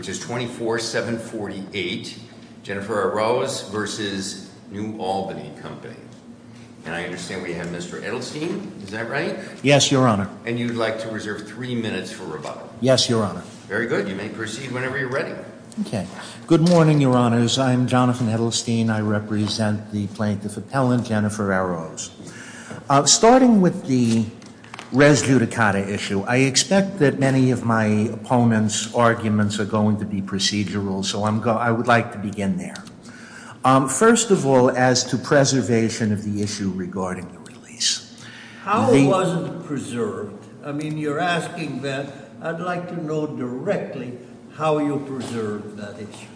24-748 Jennifer Arroz v. New Albany Company And I understand we have Mr. Edelstein. Is that right? Yes, Your Honor. And you'd like to reserve three minutes for rebuttal. Yes, Your Honor. Very good. You may proceed whenever you're ready. Okay. Good morning, Your Honors. I'm Jonathan Edelstein. I represent the Plaintiff Appellant, Jennifer Arroz. Starting with the res judicata issue, I expect that many of my opponents' arguments are going to be procedural, so I would like to begin there. First of all, as to preservation of the issue regarding the release. How was it preserved? I mean, you're asking that. I'd like to know directly how you preserved that issue.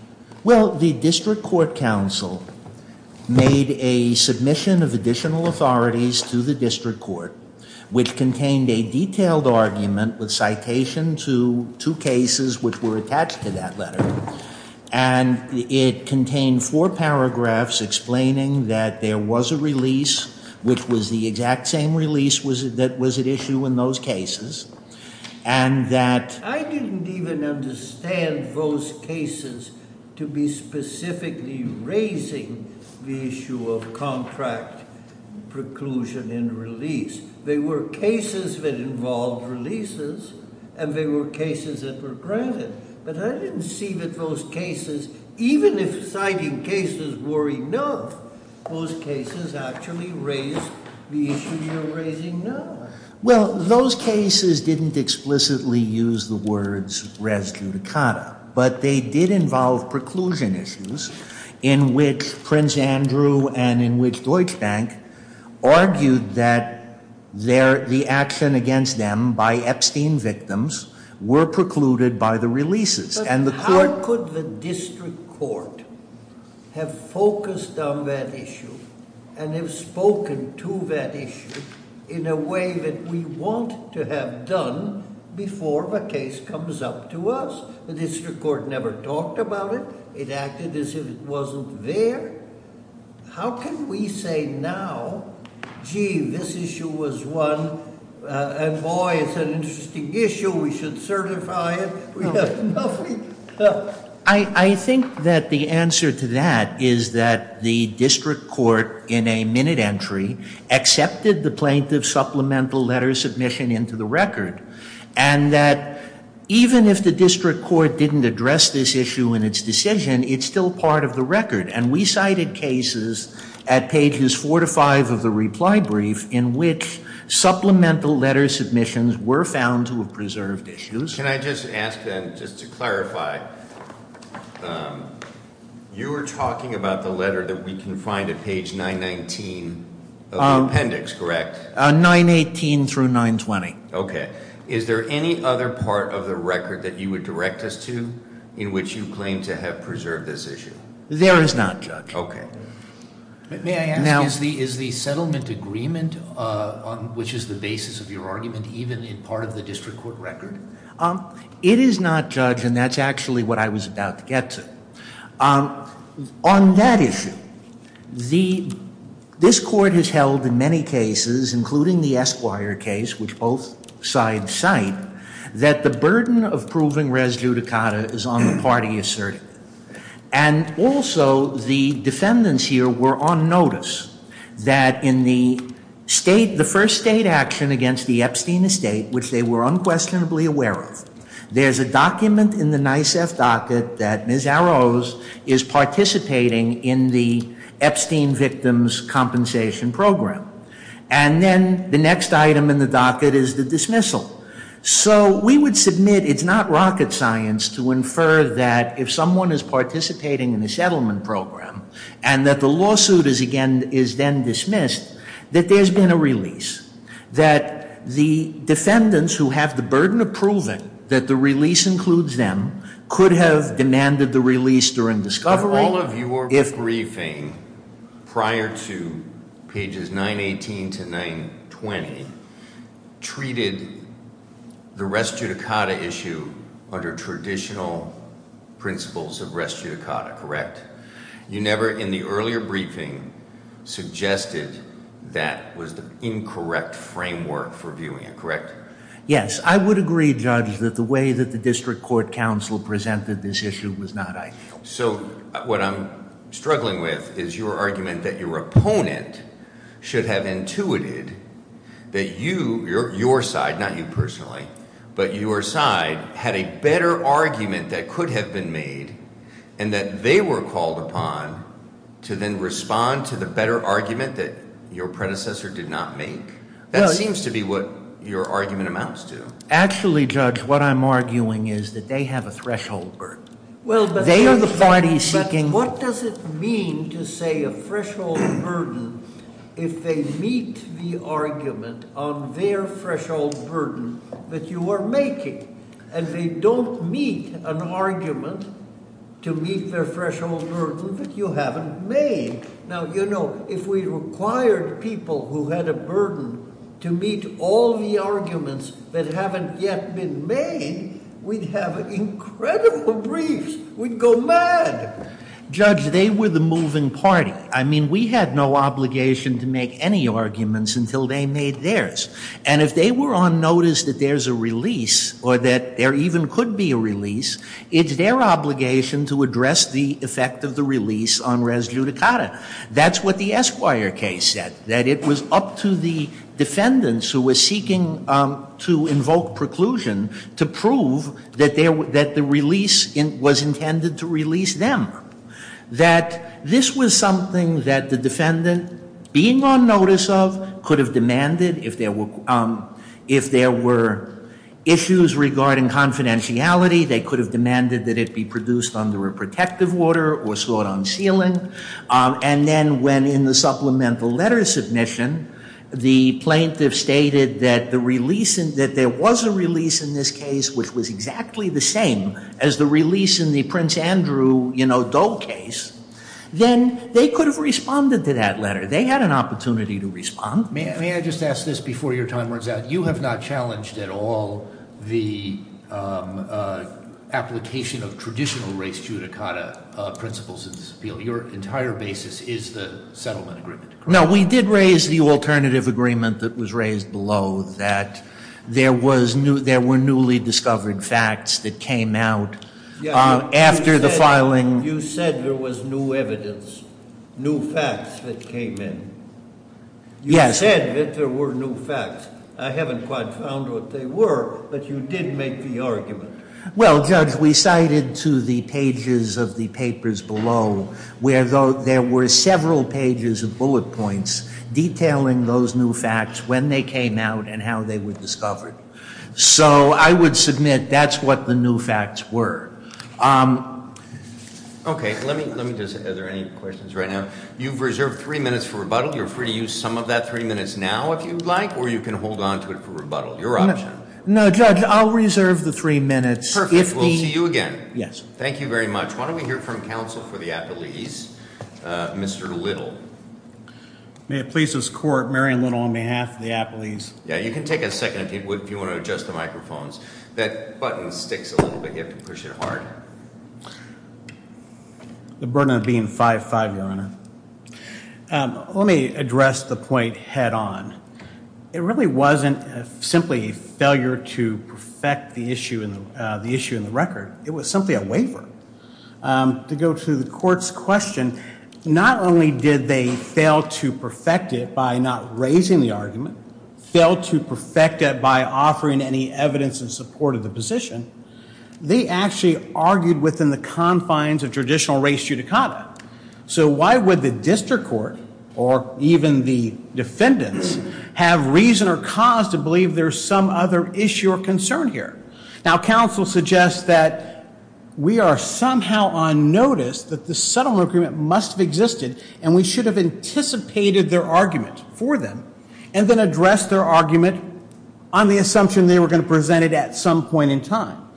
Well, the District Court Counsel made a submission of additional authorities to the District Court, which contained a detailed argument with citation to two cases which were attached to that letter. And it contained four paragraphs explaining that there was a release, which was the exact same release that was at issue in those cases, and that I didn't even understand those cases to be specifically raising the issue of contract preclusion and release. They were cases that involved releases, and they were cases that were granted. But I didn't see that those cases, even if citing cases were enough, those cases actually raised the issue you're raising now. Well, those cases didn't explicitly use the words res judicata. But they did involve preclusion issues in which Prince Andrew and in which Deutsche Bank argued that the action against them by Epstein victims were precluded by the releases. But how could the District Court have focused on that issue and have spoken to that issue in a way that we want to have done before the case comes up to us? The District Court never talked about it. It acted as if it wasn't there. How can we say now, gee, this issue was one, and boy, it's an interesting issue. We should certify it. I think that the answer to that is that the District Court in a minute entry accepted the plaintiff's supplemental letter submission into the record. And that even if the District Court didn't address this issue in its decision, it's still part of the record. And we cited cases at pages four to five of the reply brief in which supplemental letter submissions were found to have preserved issues. Can I just ask then, just to clarify, you were talking about the letter that we can find at page 919 of the appendix, correct? 918 through 920. Okay. Is there any other part of the record that you would direct us to in which you claim to have preserved this issue? There is not, Judge. May I ask, is the settlement agreement on which is the basis of your argument even in part of the District Court record? It is not, Judge, and that's actually what I was about to get to. On that issue, this court has held in many cases, including the Esquire case, which both sides cite, that the burden of proving res judicata is on the party asserted. And also, the defendants here were on notice that in the first state action against the Epstein Estate, which they were unquestionably aware of, there's a document in the NICEF docket that Ms. Arrows is participating in the Epstein victims compensation program. And then the next item in the docket is the dismissal. So we would submit it's not rocket science to infer that if someone is participating in a settlement program, and that the lawsuit is then dismissed, that there's been a release. That the defendants who have the burden of proving that the release includes them could have demanded the release during discovery. All of your briefing prior to pages 918 to 920 treated the res judicata issue under traditional principles of res judicata, correct? You never in the earlier briefing suggested that was the incorrect framework for viewing it, correct? Yes, I would agree, Judge, that the way that the District Court counsel presented this issue was not ideal. So what I'm struggling with is your argument that your opponent should have intuited that you, your side, not you personally. But your side had a better argument that could have been made and that they were called upon to then respond to the better argument that your predecessor did not make. That seems to be what your argument amounts to. Actually, Judge, what I'm arguing is that they have a threshold burden. They are the parties seeking- But what does it mean to say a threshold burden if they meet the argument on their threshold burden that you are making? And they don't meet an argument to meet their threshold burden that you haven't made. Now, you know, if we required people who had a burden to meet all the arguments that haven't yet been made, we'd have incredible briefs. We'd go mad. Judge, they were the moving party. I mean, we had no obligation to make any arguments until they made theirs. And if they were on notice that there's a release or that there even could be a release, it's their obligation to address the effect of the release on res judicata. That's what the Esquire case said, that it was up to the defendants who were seeking to invoke preclusion to prove that the release was intended to release them, that this was something that the defendant, being on notice of, could have demanded. If there were issues regarding confidentiality, they could have demanded that it be produced under a protective order or sought on sealing. And then when, in the supplemental letter submission, the plaintiff stated that there was a release in this case, which was exactly the same as the release in the Prince Andrew Doe case, then they could have responded to that letter. They had an opportunity to respond. May I just ask this before your time runs out? You have not challenged at all the application of traditional res judicata principles in this appeal. Your entire basis is the settlement agreement. No, we did raise the alternative agreement that was raised below, that there were newly discovered facts that came out after the filing. You said there was new evidence, new facts that came in. Yes. You said that there were new facts. I haven't quite found what they were, but you did make the argument. Well, Judge, we cited to the pages of the papers below where there were several pages of bullet points detailing those new facts, when they came out, and how they were discovered. So I would submit that's what the new facts were. Okay, let me just, are there any questions right now? You've reserved three minutes for rebuttal. You're free to use some of that three minutes now if you'd like, or you can hold onto it for rebuttal. Your option. No, Judge, I'll reserve the three minutes. We'll see you again. Yes. Thank you very much. Why don't we hear from counsel for the appellees, Mr. Little. May it please this Court, Marion Little on behalf of the appelees. Yeah, you can take a second if you want to adjust the microphones. That button sticks a little bit. You have to push it hard. The burden of being 5'5", Your Honor. Let me address the point head on. It really wasn't simply a failure to perfect the issue in the record. It was simply a waiver. To go to the Court's question, not only did they fail to perfect it by not raising the argument, fail to perfect it by offering any evidence in support of the position, they actually argued within the confines of traditional race judicata. So why would the district court, or even the defendants, have reason or cause to believe there's some other issue or concern here? Now, counsel suggests that we are somehow on notice that the settlement agreement must have existed and we should have anticipated their argument for them and then addressed their argument on the assumption they were going to present it at some point in time.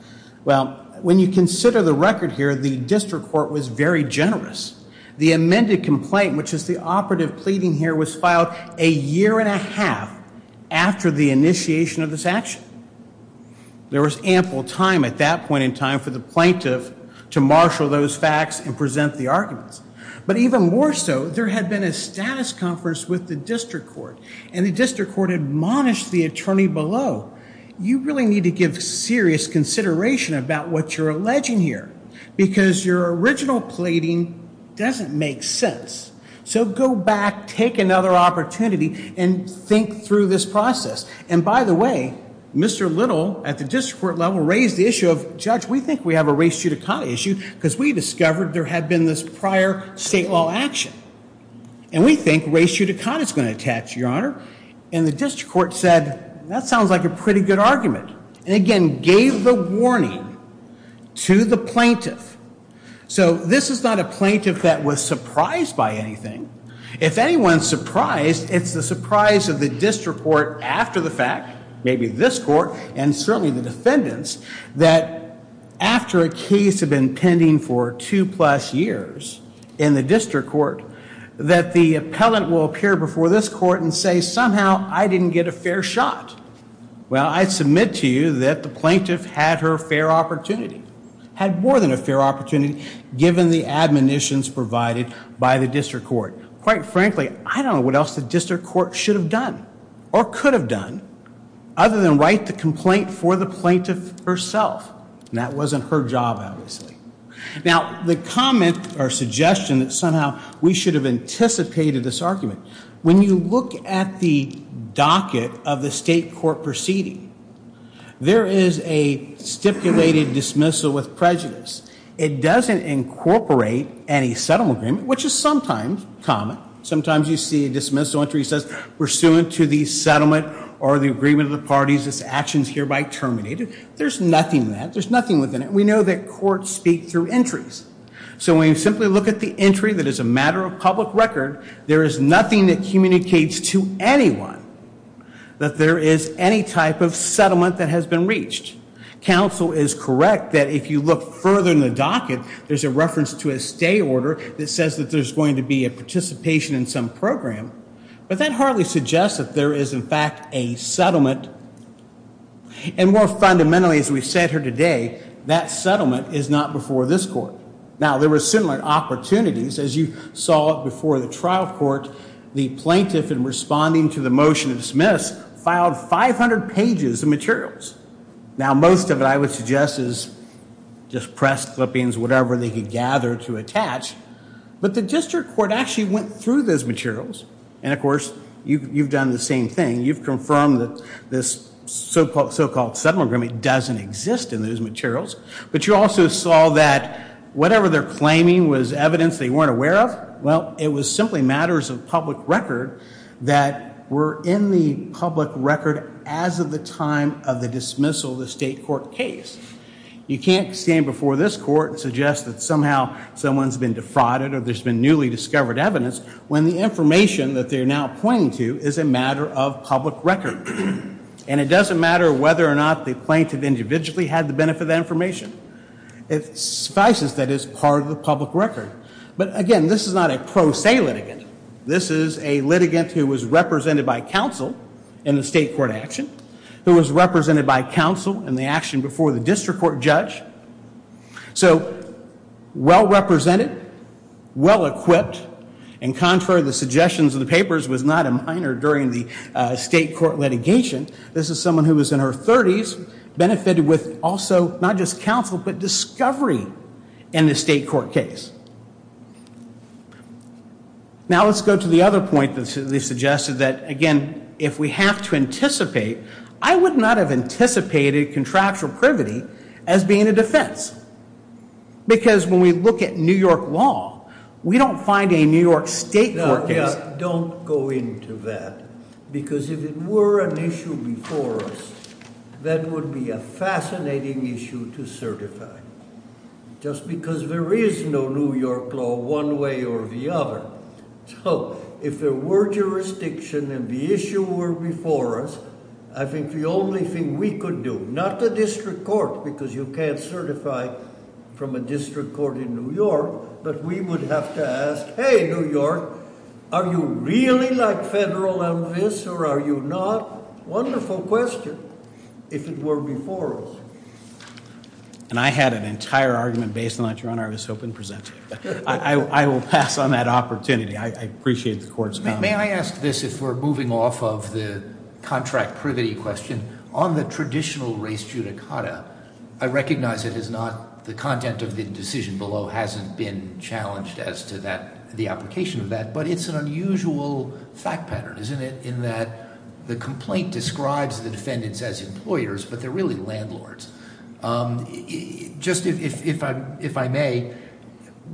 Well, when you consider the record here, the district court was very generous. The amended complaint, which is the operative pleading here, was filed a year and a half after the initiation of this action. There was ample time at that point in time for the plaintiff to marshal those facts and present the arguments. But even more so, there had been a status conference with the district court and the district court admonished the attorney below. You really need to give serious consideration about what you're alleging here because your original pleading doesn't make sense. So go back, take another opportunity, and think through this process. And by the way, Mr. Little, at the district court level, raised the issue of, Judge, we think we have a race judicata issue because we discovered there had been this prior state law action. And we think race judicata is going to attach, Your Honor. And the district court said, That sounds like a pretty good argument. And again, gave the warning to the plaintiff. So this is not a plaintiff that was surprised by anything. If anyone's surprised, it's the surprise of the district court after the fact, maybe this court and certainly the defendants, that after a case had been pending for two plus years in the district court, that the appellant will appear before this court and say, Somehow I didn't get a fair shot. Well, I submit to you that the plaintiff had her fair opportunity, had more than a fair opportunity given the admonitions provided by the district court. Quite frankly, I don't know what else the district court should have done or could have done other than write the complaint for the plaintiff herself. And that wasn't her job, obviously. Now, the comment or suggestion that somehow we should have anticipated this argument, when you look at the docket of the state court proceeding, there is a stipulated dismissal with prejudice. It doesn't incorporate any settlement agreement, which is sometimes common. Sometimes you see a dismissal entry that says, Pursuant to the settlement or the agreement of the parties, this action is hereby terminated. There's nothing in that. There's nothing within it. We know that courts speak through entries. So when you simply look at the entry that is a matter of public record, there is nothing that communicates to anyone that there is any type of settlement that has been reached. Counsel is correct that if you look further in the docket, there's a reference to a stay order that says that there's going to be a participation in some program. But that hardly suggests that there is, in fact, a settlement. And more fundamentally, as we've said here today, that settlement is not before this court. Now, there were similar opportunities, as you saw before the trial court. The plaintiff, in responding to the motion to dismiss, filed 500 pages of materials. Now, most of it, I would suggest, is just press clippings, whatever they could gather to attach. But the district court actually went through those materials. And, of course, you've done the same thing. You've confirmed that this so-called settlement agreement doesn't exist in those materials. But you also saw that whatever they're claiming was evidence they weren't aware of. Well, it was simply matters of public record that were in the public record as of the time of the dismissal of the state court case. You can't stand before this court and suggest that somehow someone's been defrauded or there's been newly discovered evidence, when the information that they're now pointing to is a matter of public record. And it doesn't matter whether or not the plaintiff individually had the benefit of that information. It suffices that it's part of the public record. But, again, this is not a pro se litigant. This is a litigant who was represented by counsel in the state court action, who was represented by counsel in the action before the district court judge. So well-represented, well-equipped. And, contrary to the suggestions of the papers, was not a minor during the state court litigation. This is someone who was in her 30s, benefited with also not just counsel, but discovery in the state court case. Now let's go to the other point that they suggested that, again, if we have to anticipate, I would not have anticipated contractual privity as being a defense. Because when we look at New York law, we don't find a New York state court case- Now, yeah, don't go into that. Because if it were an issue before us, that would be a fascinating issue to certify. Just because there is no New York law one way or the other. So, if there were jurisdiction and the issue were before us, I think the only thing we could do, not the district court, because you can't certify from a district court in New York, but we would have to ask, hey, New York, are you really like federal MFIS or are you not? Wonderful question, if it were before us. And I had an entire argument based on that. Your Honor, I was hoping to present to you. I will pass on that opportunity. I appreciate the court's comment. May I ask this, if we're moving off of the contract privity question, on the traditional race judicata, I recognize it is not the content of the decision below hasn't been challenged as to the application of that, but it's an unusual fact pattern, isn't it, in that the complaint describes the defendants as employers, but they're really landlords. Just if I may,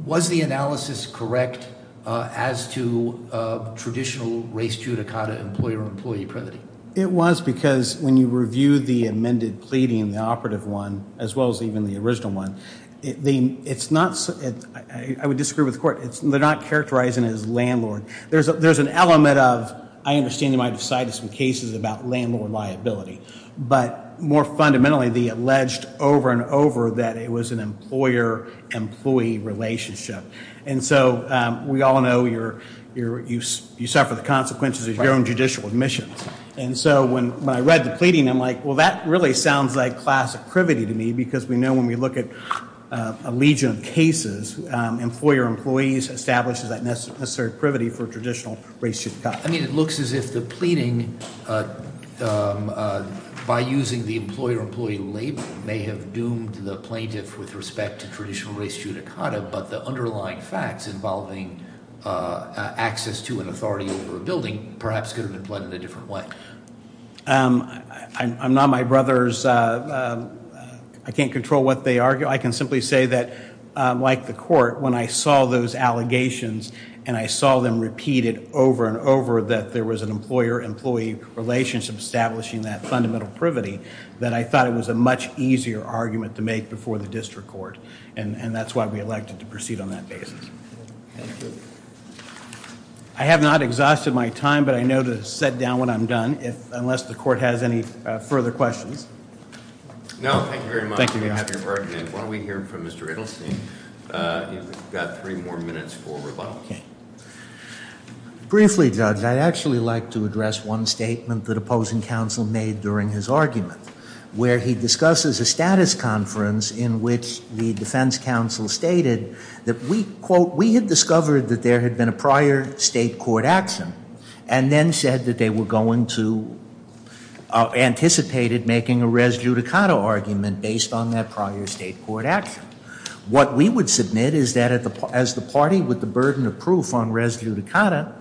was the analysis correct as to traditional race judicata employer-employee privity? It was, because when you review the amended pleading, the operative one, as well as even the original one, it's not, I would disagree with the court, they're not characterizing it as landlord. There's an element of, I understand they might have cited some cases about landlord liability, but more fundamentally, they alleged over and over that it was an employer-employee relationship. And so we all know you suffer the consequences of your own judicial admissions. And so when I read the pleading, I'm like, well, that really sounds like class privity to me, because we know when we look at a legion of cases, employer-employees establishes that necessary privity for traditional race judicata. I mean, it looks as if the pleading, by using the employer-employee label, may have doomed the plaintiff with respect to traditional race judicata, but the underlying facts involving access to an authority over a building perhaps could have been pled in a different way. I'm not my brother's, I can't control what they argue. I can simply say that, like the court, when I saw those allegations, and I saw them repeated over and over, that there was an employer-employee relationship establishing that fundamental privity, that I thought it was a much easier argument to make before the district court, and that's why we elected to proceed on that basis. I have not exhausted my time, but I know to set down when I'm done, unless the court has any further questions. No, thank you very much. I'm happy to work with you. Why don't we hear from Mr. Edelstein? You've got three more minutes for rebuttal. Briefly, Judge, I'd actually like to address one statement that opposing counsel made during his argument, where he discusses a status conference in which the defense counsel stated that we, quote, that there had been a prior state court action, and then said that they were going to, anticipated making a res judicata argument based on that prior state court action. What we would submit is that as the party with the burden of proof on res judicata,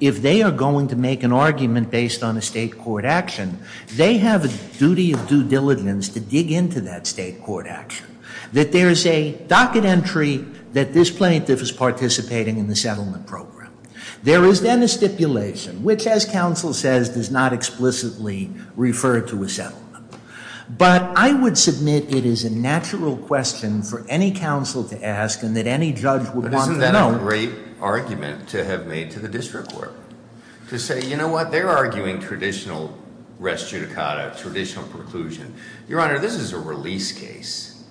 if they are going to make an argument based on a state court action, they have a duty of due diligence to dig into that state court action. That there is a docket entry that this plaintiff is participating in the settlement program. There is then a stipulation, which as counsel says, does not explicitly refer to a settlement. But I would submit it is a natural question for any counsel to ask and that any judge would want to know. Isn't that a great argument to have made to the district court? To say, you know what, they're arguing traditional res judicata, traditional preclusion. Your Honor, this is a release case.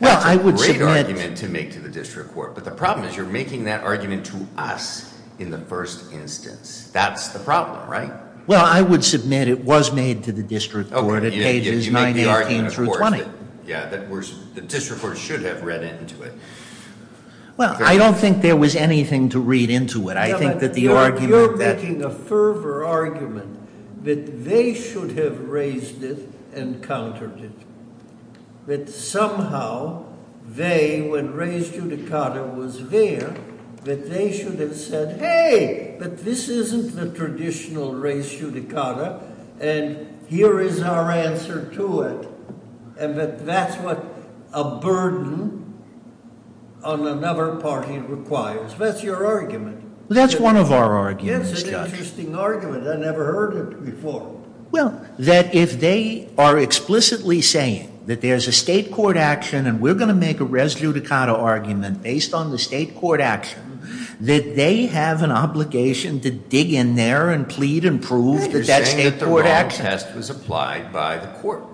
That's a great argument to make to the district court. But the problem is you're making that argument to us in the first instance. That's the problem, right? Well, I would submit it was made to the district court at pages 918 through 20. Yeah, the district court should have read into it. Well, I don't think there was anything to read into it. I think that the argument that- You're making a fervor argument that they should have raised it and countered it. That somehow they, when res judicata was there, that they should have said, hey, but this isn't the traditional res judicata and here is our answer to it. And that that's what a burden on another party requires. That's your argument. That's one of our arguments, Judge. It's an interesting argument. I've never heard it before. Well, that if they are explicitly saying that there's a state court action and we're going to make a res judicata argument based on the state court action, that they have an obligation to dig in there and plead and prove that that state court action- You're saying that the wrong test was applied by the court.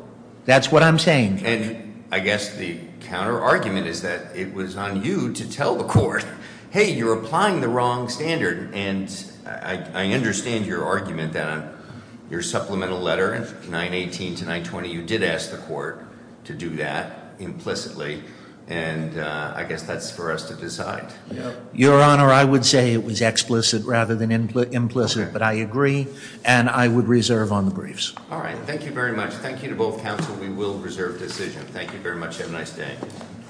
That's what I'm saying, Judge. And I guess the counter argument is that it was on you to tell the court, hey, you're applying the wrong standard. And I understand your argument that on your supplemental letter, 918 to 920, you did ask the court to do that implicitly. And I guess that's for us to decide. Your Honor, I would say it was explicit rather than implicit, but I agree. And I would reserve on the briefs. All right. Thank you very much. Thank you to both counsel. We will reserve decision. Thank you very much. Have a nice day.